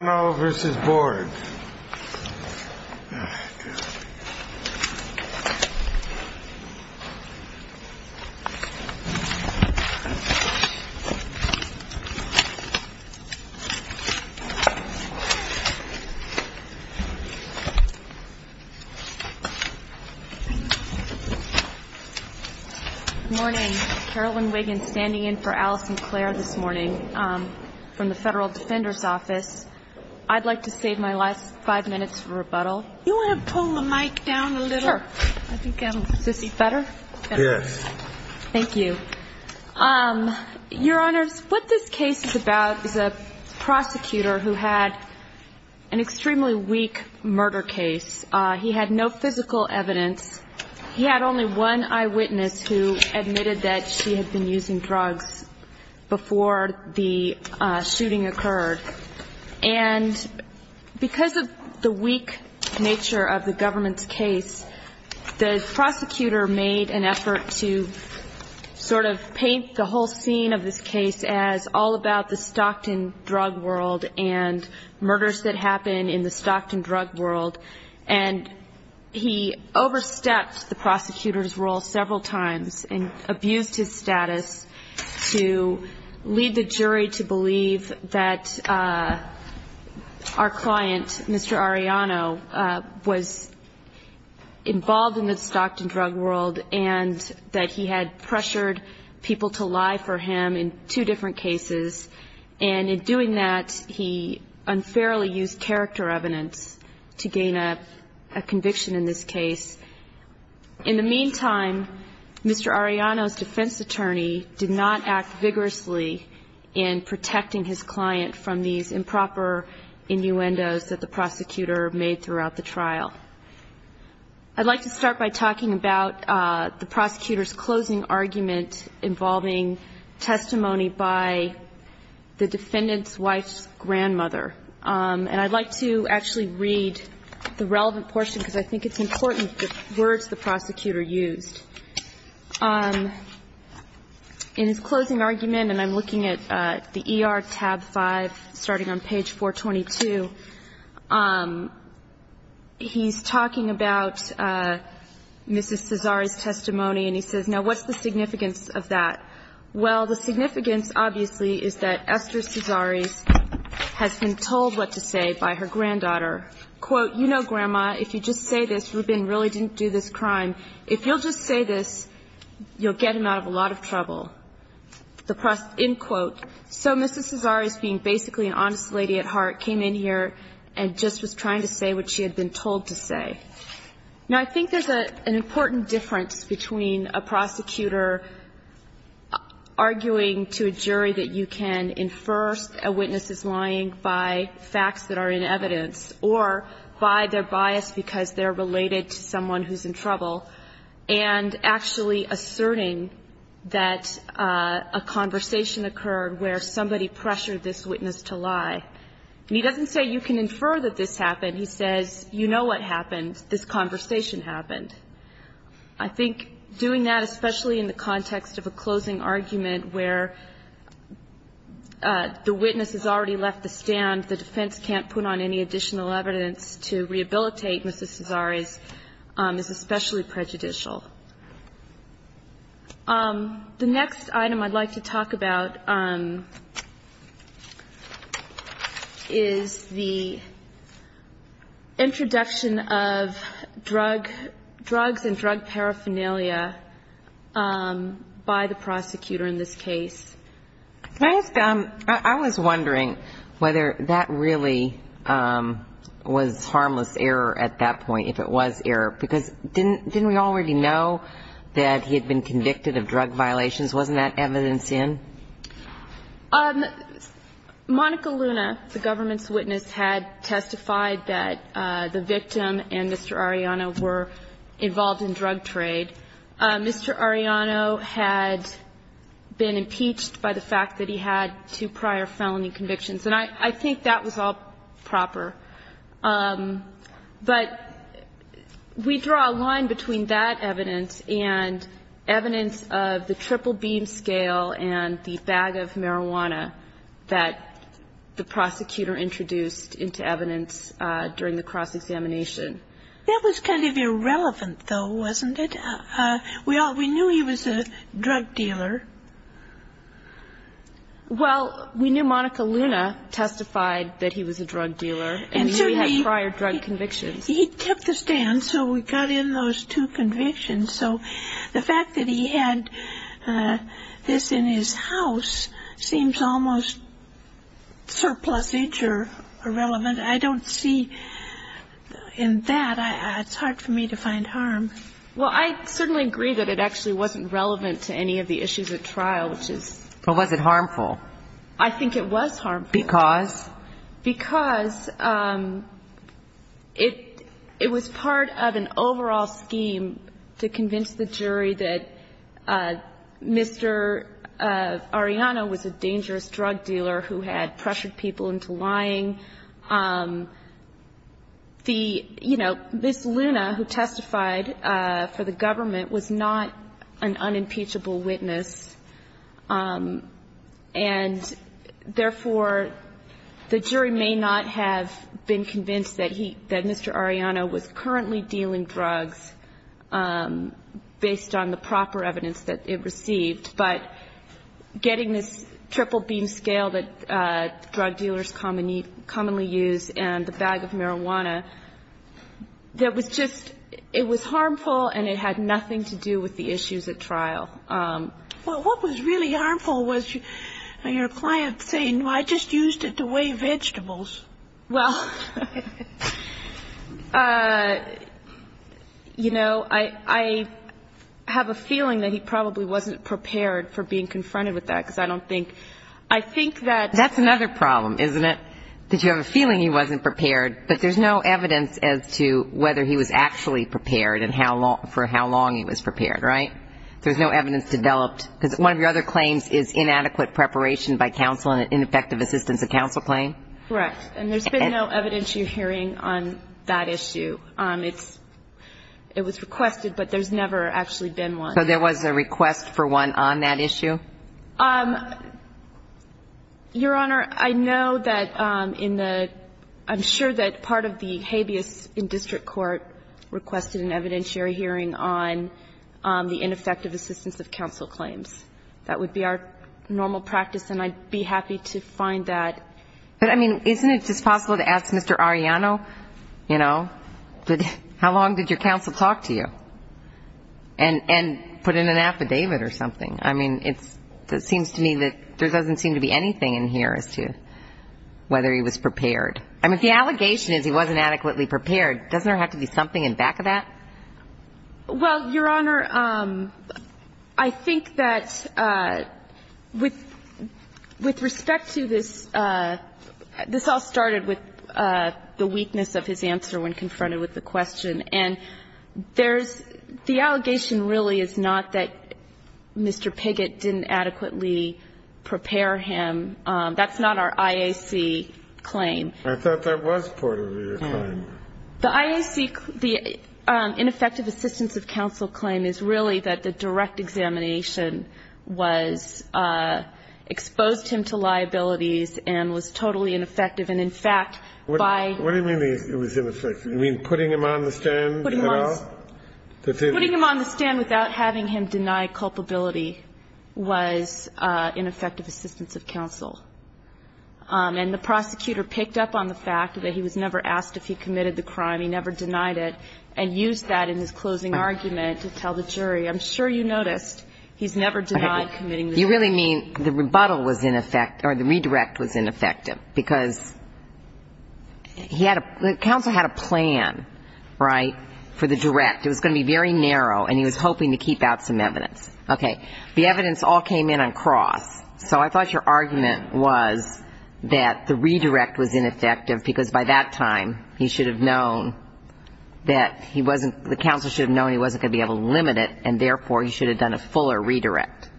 Good morning, Carolyn Wiggins standing in for Alice McClare this morning from the Federal Defender's Office. I'd like to save my last five minutes for rebuttal. Your Honor, what this case is about is a prosecutor who had an extremely weak murder case. He had no physical evidence. He had only one eyewitness who admitted that she had been And because of the weak nature of the government's case, the prosecutor made an effort to sort of paint the whole scene of this case as all about the Stockton drug world and murders that happen in the Stockton drug world. And he overstepped the prosecutor's role several times and abused his status to lead the jury to believe that our client, Mr. Arellano, was involved in the Stockton drug world and that he had pressured people to lie for him in two different cases. And in doing that, he unfairly used character evidence to gain a conviction in this case. In the meantime, Mr. Arellano's defense attorney did not act vigorously in protecting his client from these improper innuendos that the prosecutor made throughout the trial. I'd like to start by talking about the prosecutor's closing argument involving testimony by the defendant's wife's grandmother. And I'd like to actually read the relevant portion, because I think it's important, the words the prosecutor used. In his closing argument, and I'm looking at the E.R. tab 5, starting on page 422, he's talking about Mrs. Cesari's testimony, and he says, now, what's the significance of that? Well, the significance, obviously, is that Esther Cesari has been told what to say by her granddaughter. Quote, you know, Grandma, if you just say this, Rubin really didn't do this crime. If you'll just say this, you'll get him out of a lot of trouble. The prosecutor, end quote. So Mrs. Cesari, being basically an honest lady at heart, came in here and just was trying to say what she had been told to say. Now, I think there's an important difference between a prosecutor arguing to a jury that you can, in first, a witness is lying by facts that are in evidence, or by their bias because they're related to someone who's in trouble, and actually asserting that a conversation occurred where somebody pressured this witness to lie. And he doesn't say you can infer that this happened. He says, you know what happened. This conversation happened. I think doing that, especially in the context of a closing argument where the witness has already left the stand, the defense can't put on any additional evidence to rehabilitate Mrs. Cesari's, is especially prejudicial. The next item I'd like to talk about is the introduction of drug, drugs and drug paraphernalia by the prosecutor in this case. Can I ask, I was wondering whether that really was harmless error at that point, if it was error, because didn't, didn't we already know that he had been convicted of drug violations? Wasn't that evidence in? Monica Luna, the government's witness, had testified that the victim and Mr. Arellano were involved in drug trade. Mr. Arellano had been impeached by the fact that he had two prior felony convictions. And I think that was all proper. But we draw a line between that evidence and evidence of the triple beam scale and the bag of marijuana that the prosecutor introduced into evidence during the cross-examination. That was kind of irrelevant, though, wasn't it? We all, we knew he was a drug dealer. Well, we knew Monica Luna testified that he was a drug dealer, and he had prior drug convictions. He kept the stand, so we got in on those two convictions. So the fact that he had this in his house seems almost surplusage or irrelevant. I don't see in that, it's hard for me to find harm. Well, I certainly agree that it actually wasn't relevant to any of the issues at trial, which is. Well, was it harmful? I think it was harmful. Because? Because it was part of an overall scheme to convince the jury that Mr. Arellano was a dangerous drug dealer who had pressured people into lying. The, you know, Ms. Luna, who testified for the government, was not an unimpeachable witness, and therefore, the jury may not have been convinced that he, that Mr. Arellano was currently dealing drugs based on the proper evidence that it received. But getting this triple beam scale that drug dealers commonly use and the bag of marijuana, that was just, it was harmful, and it had nothing to do with the issues at trial. Well, what was really harmful was your client saying, well, I just used it to weigh vegetables. Well, you know, I have a feeling that he probably wasn't prepared for being confronted with that, because I don't think, I think that. That's another problem, isn't it? That you have a feeling he wasn't prepared, but there's no evidence as to whether he was actually prepared and how long, for how long he was prepared, right? There's no evidence developed, because one of your other claims is inadequate preparation by counsel and ineffective assistance of counsel claim. Correct. And there's been no evidence you're hearing on that issue. It's, it was requested, but there's never actually been one. So there was a request for one on that issue? Your Honor, I know that in the, I'm sure that part of the habeas in district court requested an evidentiary hearing on the ineffective assistance of counsel claims. That would be our normal practice, and I'd be happy to find that. But, I mean, isn't it just possible to ask Mr. Arellano, you know, how long did your counsel talk to you? And put in an affidavit or something. I mean, it's, it seems to me that there doesn't seem to be anything in here as to whether he was prepared. I mean, if the allegation is he wasn't adequately prepared, doesn't there have to be something in back of that? Well, Your Honor, I think that with respect to this, this all started with the weakness of his answer when confronted with the question. And there's, the allegation really is not that Mr. Piggott didn't adequately prepare him. That's not our IAC claim. I thought that was part of your claim. The IAC, the ineffective assistance of counsel claim is really that the direct examination was, exposed him to liabilities and was totally ineffective. And in fact, by. What do you mean it was ineffective? You mean putting him on the stand at all? Putting him on the stand without having him deny culpability was ineffective assistance of counsel. And the prosecutor picked up on the fact that he was never asked if he committed the crime, he never denied it, and used that in his closing argument to tell the jury, I'm sure you noticed, he's never denied committing the crime. You really mean the rebuttal was ineffective, or the redirect was ineffective, because he had, the counsel had a plan, right, for the direct. It was going to be very narrow, and he was hoping to keep out some evidence. Okay. The evidence all came in on cross. So I thought your argument was that the redirect was ineffective because by that time he should have known that he wasn't, the counsel should have known he wasn't going to be able to limit it, and therefore he should have done a fuller redirect.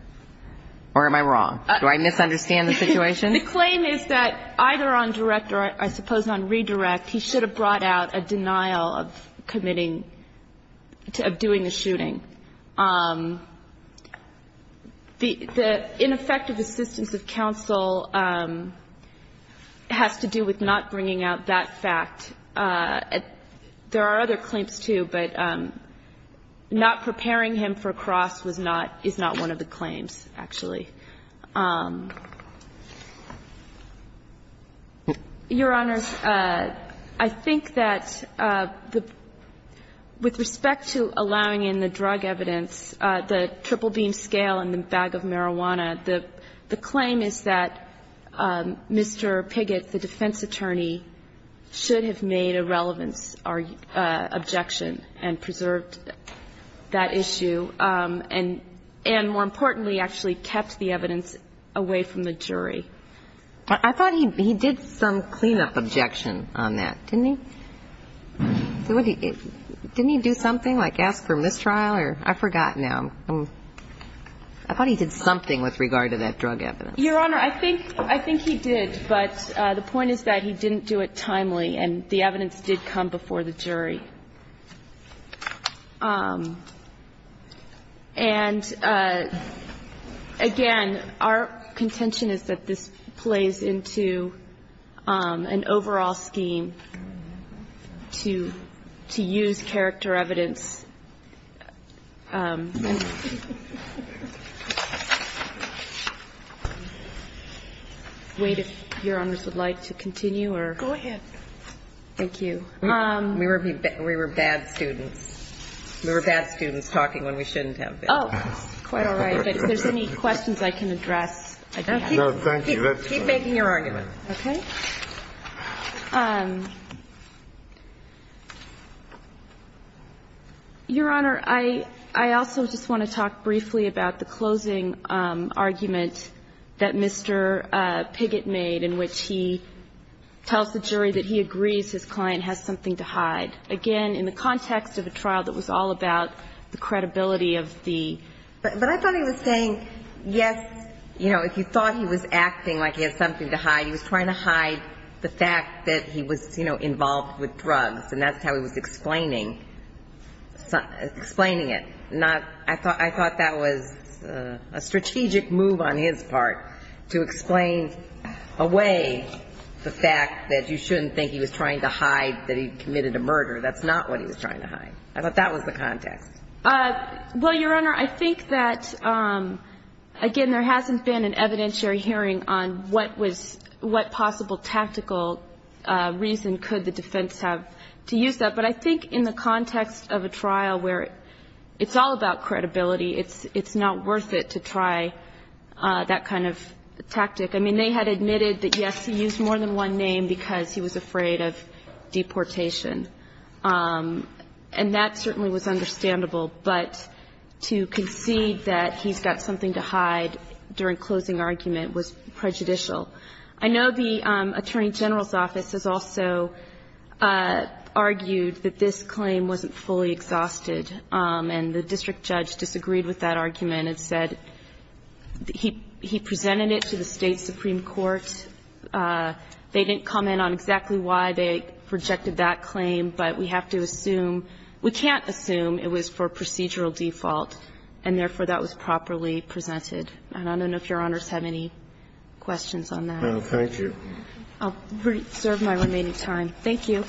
Or am I wrong? Do I misunderstand the situation? The claim is that either on direct or I suppose on redirect, he should have brought out a denial of committing, of doing the shooting. The ineffective assistance of counsel has to do with not bringing out that fact. There are other claims, too, but not preparing him for cross was not, is not one of the claims, actually. Your Honors, I think that the, with respect to allowing in the drug evidence, the triple-beam scale and the bag of marijuana, the claim is that Mr. Piggott, the defense attorney, should have made a relevance objection and preserved that issue and, more importantly, actually kept the evidence away from the jury. I thought he did some cleanup objection on that, didn't he? Didn't he do something, like ask for mistrial? I forgot now. I thought he did something with regard to that drug evidence. Your Honor, I think, I think he did, but the point is that he didn't do it timely and the evidence did come before the jury. And, again, our contention is that this plays into an overall scheme to use character evidence. Wait, if Your Honors would like to continue, or? Go ahead. Thank you. We were bad students. We were bad students talking when we shouldn't have been. Oh, quite all right. But if there's any questions I can address, I can ask. No, thank you. Keep making your argument. Okay. Your Honor, I also just want to talk briefly about the closing argument that Mr. Piggott made in which he tells the jury that he agrees his client has something to hide. Again, in the context of a trial that was all about the credibility of the ---- But I thought he was saying, yes, you know, if you thought he was acting like he had something to hide, the fact that he was involved with drugs, and that's how he was explaining it. I thought that was a strategic move on his part to explain away the fact that you shouldn't think he was trying to hide that he committed a murder. That's not what he was trying to hide. I thought that was the context. Well, Your Honor, I think that, again, there hasn't been an evidentiary hearing on what was ---- what possible tactical reason could the defense have to use that. But I think in the context of a trial where it's all about credibility, it's not worth it to try that kind of tactic. I mean, they had admitted that, yes, he used more than one name because he was afraid of deportation. And that certainly was understandable. But to concede that he's got something to hide during closing argument was prejudicial. I know the Attorney General's office has also argued that this claim wasn't fully exhausted. And the district judge disagreed with that argument and said he presented it to the State Supreme Court. They didn't comment on exactly why they rejected that claim, but we have to assume we can't assume it was for procedural default and, therefore, that was properly presented. And I don't know if Your Honors have any questions on that. No, thank you. I'll reserve my remaining time. Thank you.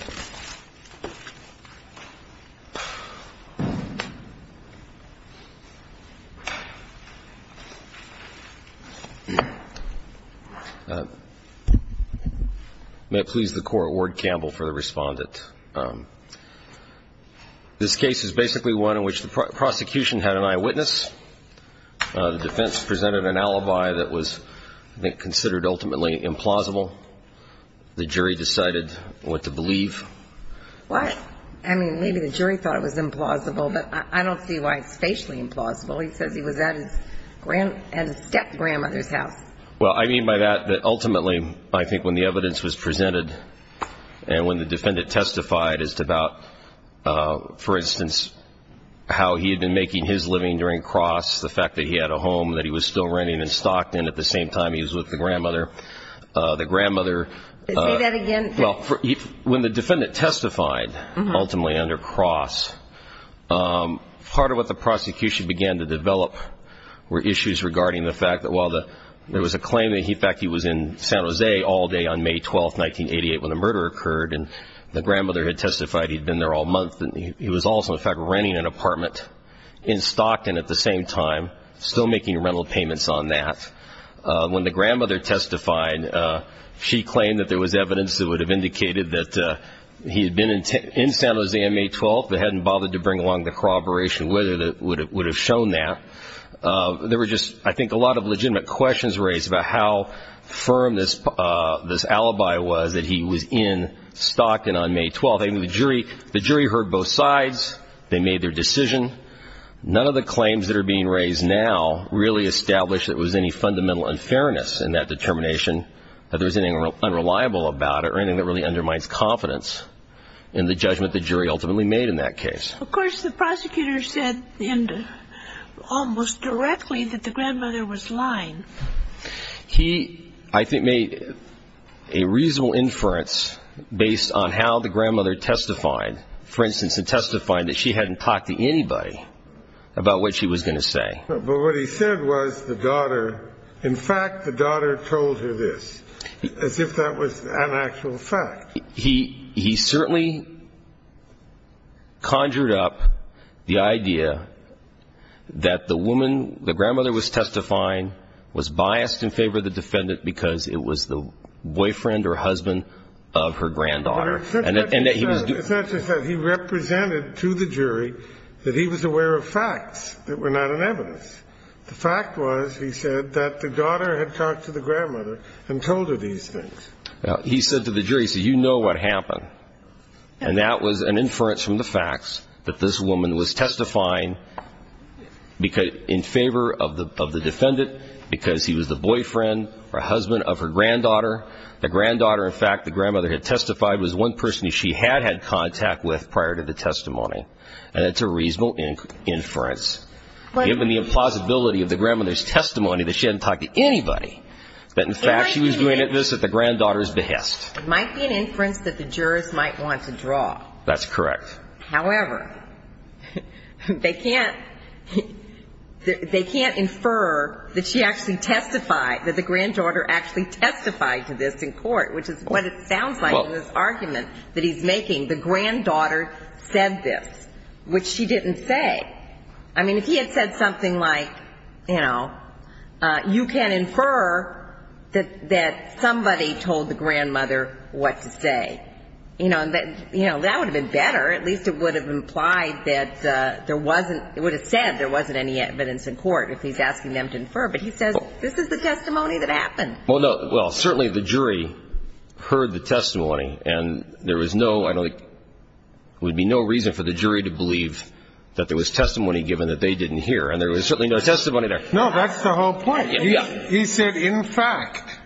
May it please the Court, Ward-Campbell for the Respondent. This case is basically one in which the prosecution had an eyewitness. The defense presented an alibi that was, I think, considered ultimately implausible. The jury decided what to believe. Well, I mean, maybe the jury thought it was implausible, but I don't see why it's facially implausible. He says he was at his step-grandmother's house. Well, I mean by that, that ultimately, I think when the evidence was presented and when the defendant testified as to about, for instance, how he had been making his living during Cross, the fact that he had a home that he was still renting in Stockton at the same time he was with the grandmother, the grandmother. Say that again. Well, when the defendant testified ultimately under Cross, part of what the prosecution began to develop were issues regarding the fact that while there was a claim that, in fact, he was in San Jose all day on May 12th, 1988, when the murder occurred, and the grandmother had testified he had been there all month, and he was also, in fact, renting an apartment in Stockton at the same time, still making rental payments on that. When the grandmother testified, she claimed that there was evidence that would have indicated that he had been in San Jose on May 12th but hadn't bothered to bring along the corroboration with her that would have shown that. There were just, I think, a lot of legitimate questions raised about how firm this alibi was that he was in Stockton on May 12th. The jury heard both sides. They made their decision. None of the claims that are being raised now really establish that there was any fundamental unfairness in that determination, that there was anything unreliable about it or anything that really undermines confidence in the judgment the jury ultimately made in that case. Of course, the prosecutor said almost directly that the grandmother was lying. He, I think, made a reasonable inference based on how the grandmother testified, for instance, in testifying that she hadn't talked to anybody about what she was going to say. But what he said was the daughter, in fact, the daughter told her this, as if that was an actual fact. He certainly conjured up the idea that the woman, the grandmother was testifying, was biased in favor of the defendant because it was the boyfriend or husband of her granddaughter. It's not just that. He represented to the jury that he was aware of facts that were not in evidence. The fact was, he said, that the daughter had talked to the grandmother and told her these things. Now, he said to the jury, he said, you know what happened. And that was an inference from the facts that this woman was testifying in favor of the defendant because he was the boyfriend or husband of her granddaughter. The granddaughter, in fact, the grandmother had testified was one person she had had contact with prior to the testimony. And it's a reasonable inference. Given the plausibility of the grandmother's testimony that she hadn't talked to It might be an inference that the jurors might want to draw. That's correct. However, they can't infer that she actually testified, that the granddaughter actually testified to this in court, which is what it sounds like in this argument that he's making. The granddaughter said this, which she didn't say. I mean, if he had said something like, you know, you can infer that somebody told the grandmother what to say. You know, that would have been better. At least it would have implied that there wasn't, it would have said there wasn't any evidence in court if he's asking them to infer. But he says, this is the testimony that happened. Well, no, well, certainly the jury heard the testimony. And there was no, there would be no reason for the jury to believe that there was testimony given that they didn't hear. And there was certainly no testimony there. No, that's the whole point. He said, in fact,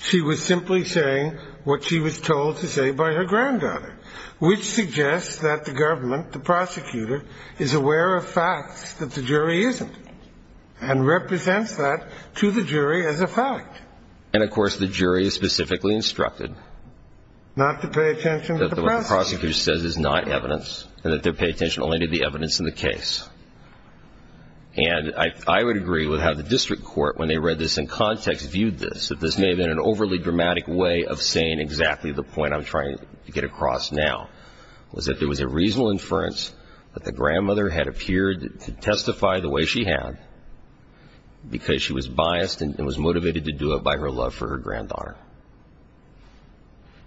she was simply saying what she was told to say by her granddaughter, which suggests that the government, the prosecutor, is aware of facts that the jury isn't and represents that to the jury as a fact. And, of course, the jury is specifically instructed. Not to pay attention to the process. That what the prosecutor says is not evidence and that they pay attention only to the evidence in the case. And I would agree with how the district court, when they read this in context, viewed this, that this may have been an overly dramatic way of saying exactly the point I'm trying to get across now, was that there was a reasonable inference that the grandmother had appeared to testify the way she had because she was biased and was motivated to do it by her love for her granddaughter.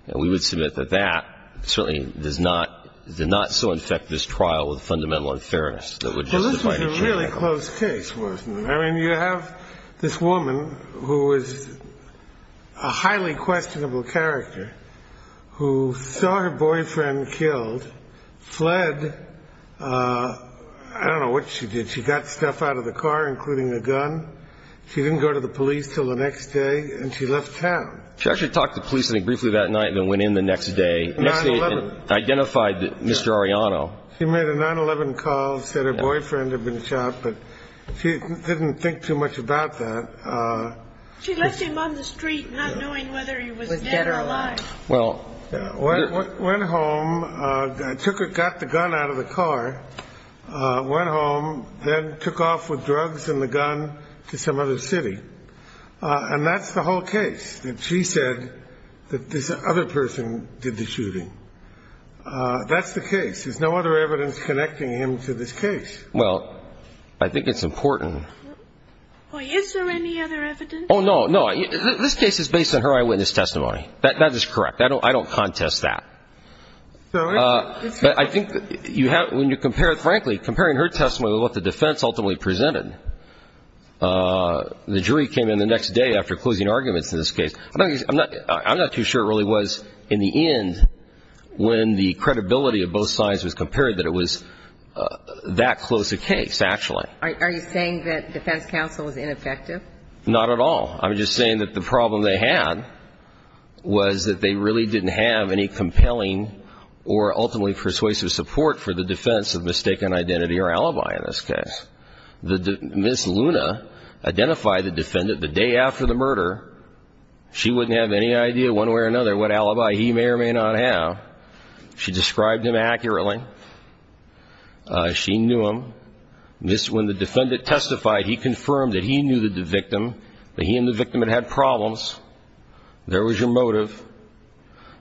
And we would submit that that certainly does not, did not so infect this trial with a fundamental inference that would justify the jury. Well, this was a really close case, wasn't it? I mean, you have this woman who is a highly questionable character who saw her boyfriend killed, fled. I don't know what she did. She got stuff out of the car, including a gun. She didn't go to the police until the next day, and she left town. She actually talked to the police briefly that night and then went in the next day. 9-11. Identified Mr. Arellano. She made a 9-11 call, said her boyfriend had been shot, but she didn't think too much about that. She left him on the street not knowing whether he was dead or alive. Went home, got the gun out of the car, went home, then took off with drugs and the gun to some other city. And that's the whole case, that she said that this other person did the shooting. That's the case. There's no other evidence connecting him to this case. Well, I think it's important. Well, is there any other evidence? Oh, no, no. This case is based on her eyewitness testimony. That is correct. I don't contest that. But I think when you compare it, frankly, comparing her testimony with what the defense ultimately presented, the jury came in the next day after closing arguments in this case. I'm not too sure it really was in the end when the credibility of both sides was compared that it was that close a case, actually. Are you saying that defense counsel was ineffective? Not at all. I'm just saying that the problem they had was that they really didn't have any compelling or ultimately persuasive support for the defense of mistaken identity or alibi in this case. Ms. Luna identified the defendant the day after the murder. She wouldn't have any idea one way or another what alibi he may or may not have. She described him accurately. She knew him. When the defendant testified, he confirmed that he knew the victim, that he and the victim had had problems. There was your motive.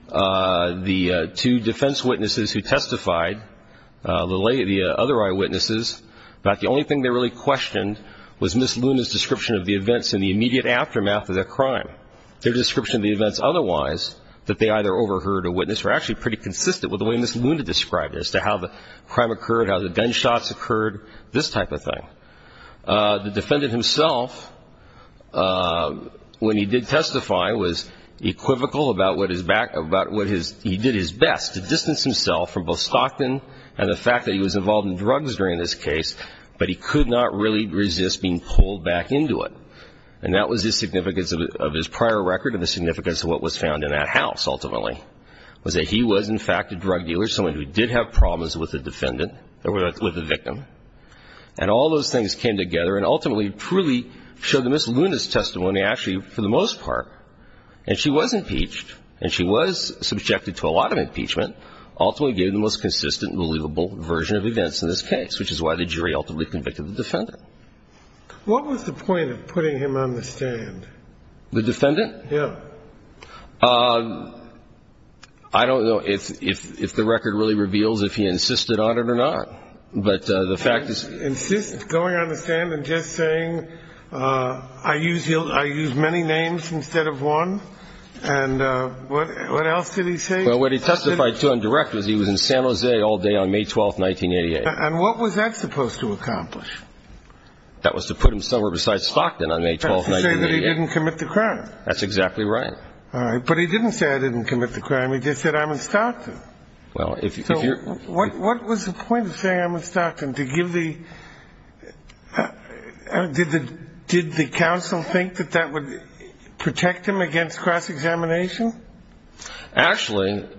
The two defense witnesses who testified, the other eyewitnesses, about the only thing they really questioned was Ms. Luna's description of the events in the immediate aftermath of their crime. Their description of the events otherwise, that they either overheard or witnessed, were actually pretty consistent with the way Ms. Luna described it as to how the crime occurred, how the gunshots occurred, this type of thing. The defendant himself, when he did testify, was equivocal about what he did his best to distance himself from both Stockton and the fact that he was involved in drugs during this case, but he could not really resist being pulled back into it. And that was the significance of his prior record and the significance of what was found in that house, ultimately, was that he was, in fact, a drug dealer, someone who did have problems with the victim. And all those things came together and ultimately truly showed that Ms. Luna's testimony actually, for the most part, and she was impeached and she was subjected to a lot of impeachment, ultimately gave the most consistent and believable version of events in this case, which is why the jury ultimately convicted the defendant. What was the point of putting him on the stand? The defendant? Yeah. I don't know if the record really reveals if he insisted on it or not, but the fact is... Insist, going on the stand and just saying, I use many names instead of one? And what else did he say? Well, what he testified to in direct was he was in San Jose all day on May 12th, 1988. And what was that supposed to accomplish? That was to put him somewhere besides Stockton on May 12th, 1988. That's to say that he didn't commit the crime. That's exactly right. All right. But he didn't say I didn't commit the crime. He just said I'm in Stockton. What was the point of saying I'm in Stockton? Did the counsel think that that would protect him against cross-examination? Actually,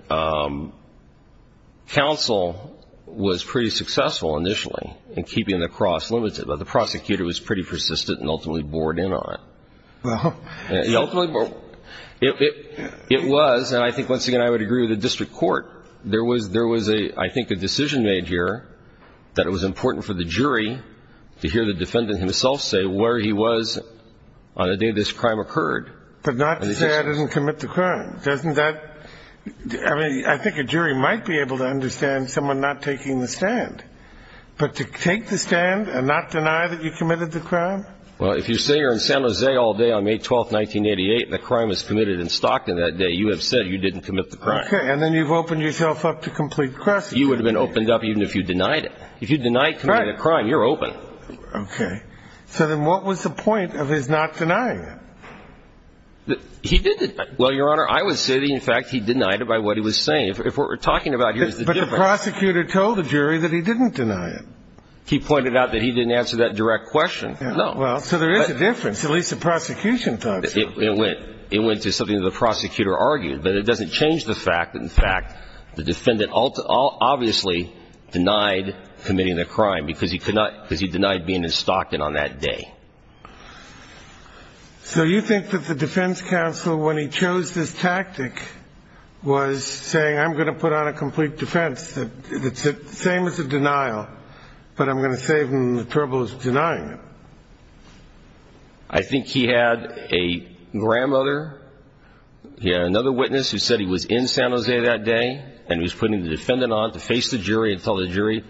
counsel was pretty successful initially in keeping the cross limited, but the prosecutor was pretty persistent and ultimately bored in on it. It was, and I think once again I would agree with the district court, there was, I think, a decision made here that it was important for the jury to hear the defendant himself say where he was on the day this crime occurred. But not to say I didn't commit the crime. I mean, I think a jury might be able to understand someone not taking the stand. But to take the stand and not deny that you committed the crime? Well, if you say you're in San Jose all day on May 12th, 1988, and the crime was committed in Stockton that day, you have said you didn't commit the crime. Okay. And then you've opened yourself up to complete cross-examination. You would have been opened up even if you denied it. If you deny committing a crime, you're open. Okay. So then what was the point of his not denying it? He did deny it. Well, Your Honor, I would say that, in fact, he denied it by what he was saying. If what we're talking about here is the difference. But the prosecutor told the jury that he didn't deny it. He pointed out that he didn't answer that direct question. No. Well, so there is a difference. At least the prosecution thought so. It went to something that the prosecutor argued. But it doesn't change the fact that, in fact, the defendant obviously denied committing the crime because he denied being in Stockton on that day. So you think that the defense counsel, when he chose this tactic, was saying, I'm going to put on a complete defense. It's the same as a denial, but I'm going to say when the trouble is denying it. I think he had a grandmother. He had another witness who said he was in San Jose that day and he was putting the defendant on to face the jury and tell the jury,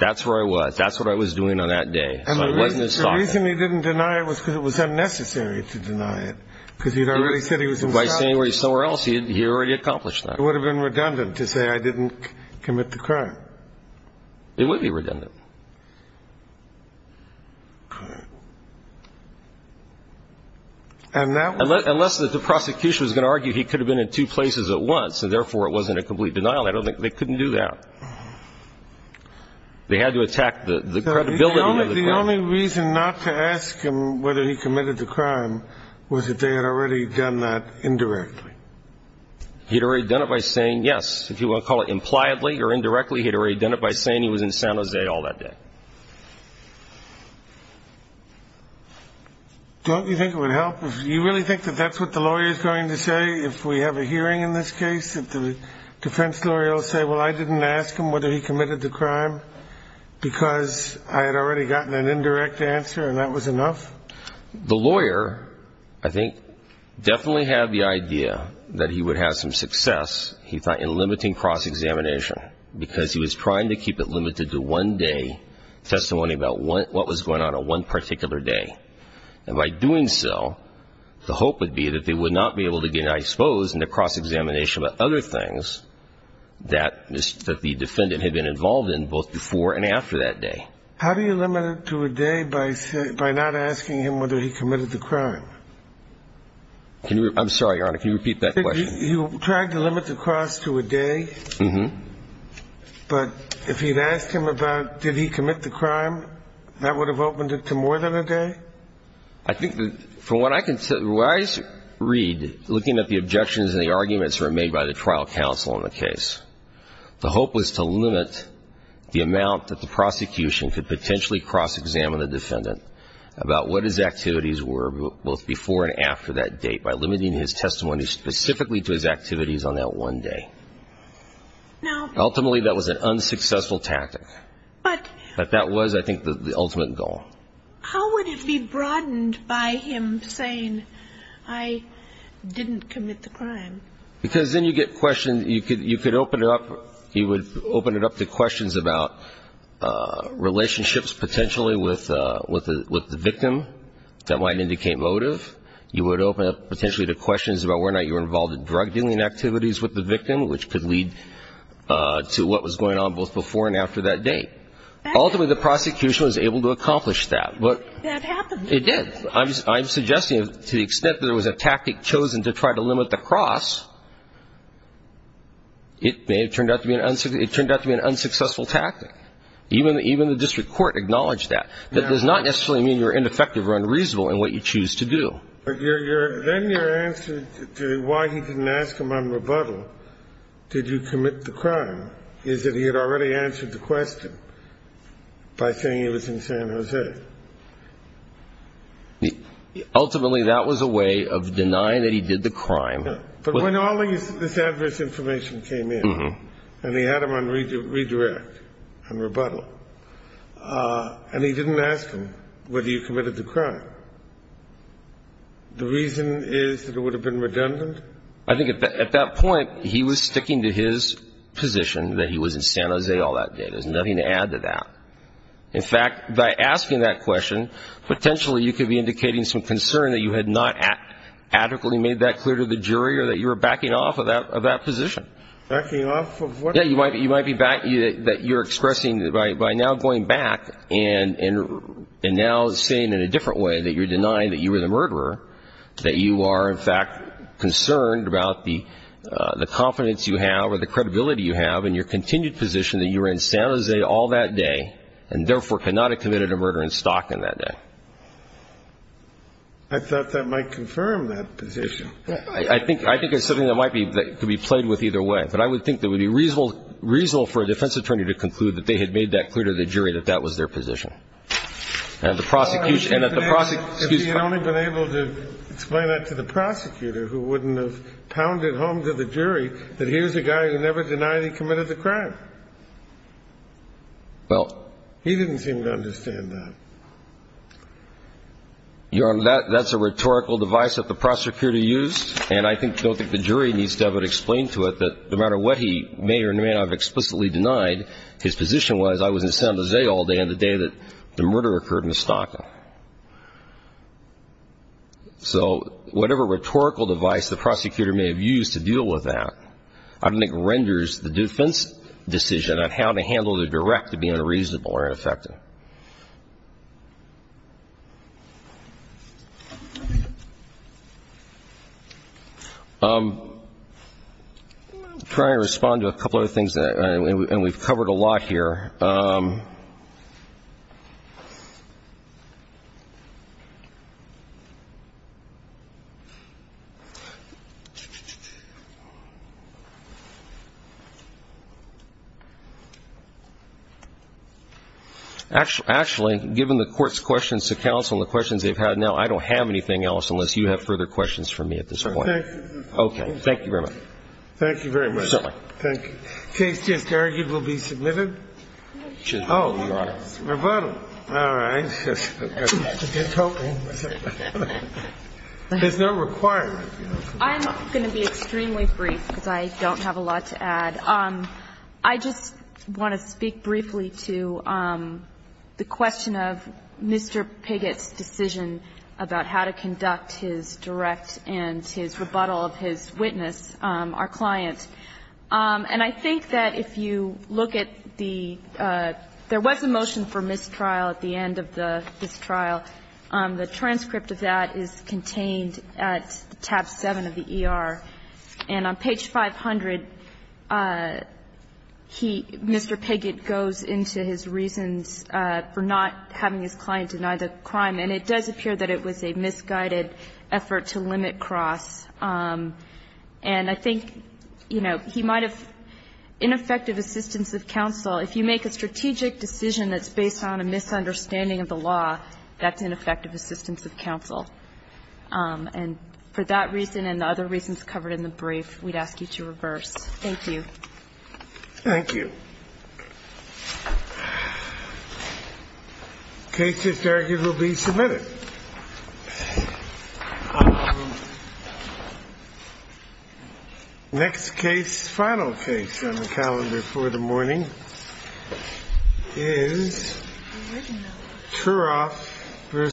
that's where I was. That's what I was doing on that day. So I wasn't in Stockton. And the reason he didn't deny it was because it was unnecessary to deny it because he had already said he was in Stockton. By saying he was somewhere else, he had already accomplished that. It would have been redundant to say I didn't commit the crime. It would be redundant. Unless the prosecution was going to argue he could have been in two places at once and therefore it wasn't a complete denial, I don't think they couldn't do that. They had to attack the credibility of the crime. The only reason not to ask him whether he committed the crime was that they had already done that indirectly. He had already done it by saying, yes, if you want to call it impliedly or indirectly, he had already done it by saying he was in San Jose all that day. Don't you think it would help if you really think that that's what the lawyer is going to say if we have a hearing in this case, that the defense lawyer will say, well, I didn't ask him whether he committed the crime because I had already gotten an indirect answer and that was enough? The lawyer, I think, definitely had the idea that he would have some success, he thought, in limiting cross-examination because he was trying to keep it limited to one day, testimony about what was going on on one particular day. And by doing so, the hope would be that they would not be able to get exposed in the cross-examination about other things that the defendant had been involved in both before and after that day. How do you limit it to a day by not asking him whether he committed the crime? I'm sorry, Your Honor. Can you repeat that question? You tried to limit the cross to a day. Mm-hmm. But if you had asked him about did he commit the crime, that would have opened it to more than a day? I think that from what I can tell, what I read looking at the objections and the arguments that were made by the trial counsel in the case, the hope was to limit the amount that the prosecution could potentially cross-examine the defendant about what his activities were both before and after that date by limiting his testimony specifically to his activities on that one day. Now ultimately, that was an unsuccessful tactic. But that was, I think, the ultimate goal. How would it be broadened by him saying, I didn't commit the crime? Because then you get questions, you could open it up, you would open it up to questions about relationships potentially with the victim that might indicate motive. You would open it up potentially to questions about whether or not you were involved in drug-dealing activities with the victim, which could lead to what was going on both before and after that date. Ultimately, the prosecution was able to accomplish that. That happened. It did. I'm suggesting to the extent that there was a tactic chosen to try to limit the cross, it may have turned out to be an unsuccessful tactic. Even the district court acknowledged that. That does not necessarily mean you're ineffective or unreasonable in what you choose to do. Then your answer to why he didn't ask him on rebuttal, did you commit the crime, is that he had already answered the question by saying he was in San Jose. Ultimately, that was a way of denying that he did the crime. But when all this adverse information came in and he had him on redirect, on rebuttal, and he didn't ask him whether he committed the crime, the reason is that it would have been redundant? I think at that point he was sticking to his position that he was in San Jose all that day. There's nothing to add to that. In fact, by asking that question, potentially you could be indicating some concern that you had not adequately made that clear to the jury or that you were backing off of that position. Backing off of what? Yeah, you might be backing that you're expressing by now going back and now saying in a different way that you're denying that you were the murderer, that you are, in fact, concerned about the confidence you have or the credibility you have and your continued position that you were in San Jose all that day and therefore could not have committed a murder in stock in that day. I thought that might confirm that position. I think it's something that might be played with either way. But I would think that it would be reasonable for a defense attorney to conclude that they had made that clear to the jury that that was their position. If he had only been able to explain that to the prosecutor who wouldn't have pounded home to the jury that here's a guy who never denied he committed the crime. He didn't seem to understand that. Your Honor, that's a rhetorical device that the prosecutor used, and I don't think the jury needs to ever explain to it that no matter what he may or may not have explicitly denied, his position was I was in San Jose all day on the day that the murder occurred in the stock. So whatever rhetorical device the prosecutor may have used to deal with that, I don't think renders the defense decision on how to handle the direct to be unreasonable or ineffective. Thank you, Your Honor. I'll try to respond to a couple of other things, and we've covered a lot here. Actually, given the court's questions to counsel and the questions they've had now, I don't have anything else unless you have further questions for me at this point. Okay. Thank you very much. Thank you very much. Certainly. Thank you. The case just argued will be submitted? Oh. Rebuttal. All right. There's no requirement. I'm going to be extremely brief because I don't have a lot to add. I just want to speak briefly to the question of Mr. Piggott's decision about how to conduct his direct and his rebuttal of his witness, our client. And I think that if you look at the – there was a motion for mistrial at the end of the mistrial. The transcript of that is contained at tab 7 of the ER. And on page 500, he, Mr. Piggott, goes into his reasons for not having his client deny the crime. And it does appear that it was a misguided effort to limit cross. And I think, you know, he might have ineffective assistance of counsel. If you make a strategic decision that's based on a misunderstanding of the law, that's ineffective assistance of counsel. And for that reason and the other reasons covered in the brief, we'd ask you to reverse. Thank you. Thank you. The case just argued will be submitted? Next case, final case on the calendar for the morning is Truroff v. Piggott.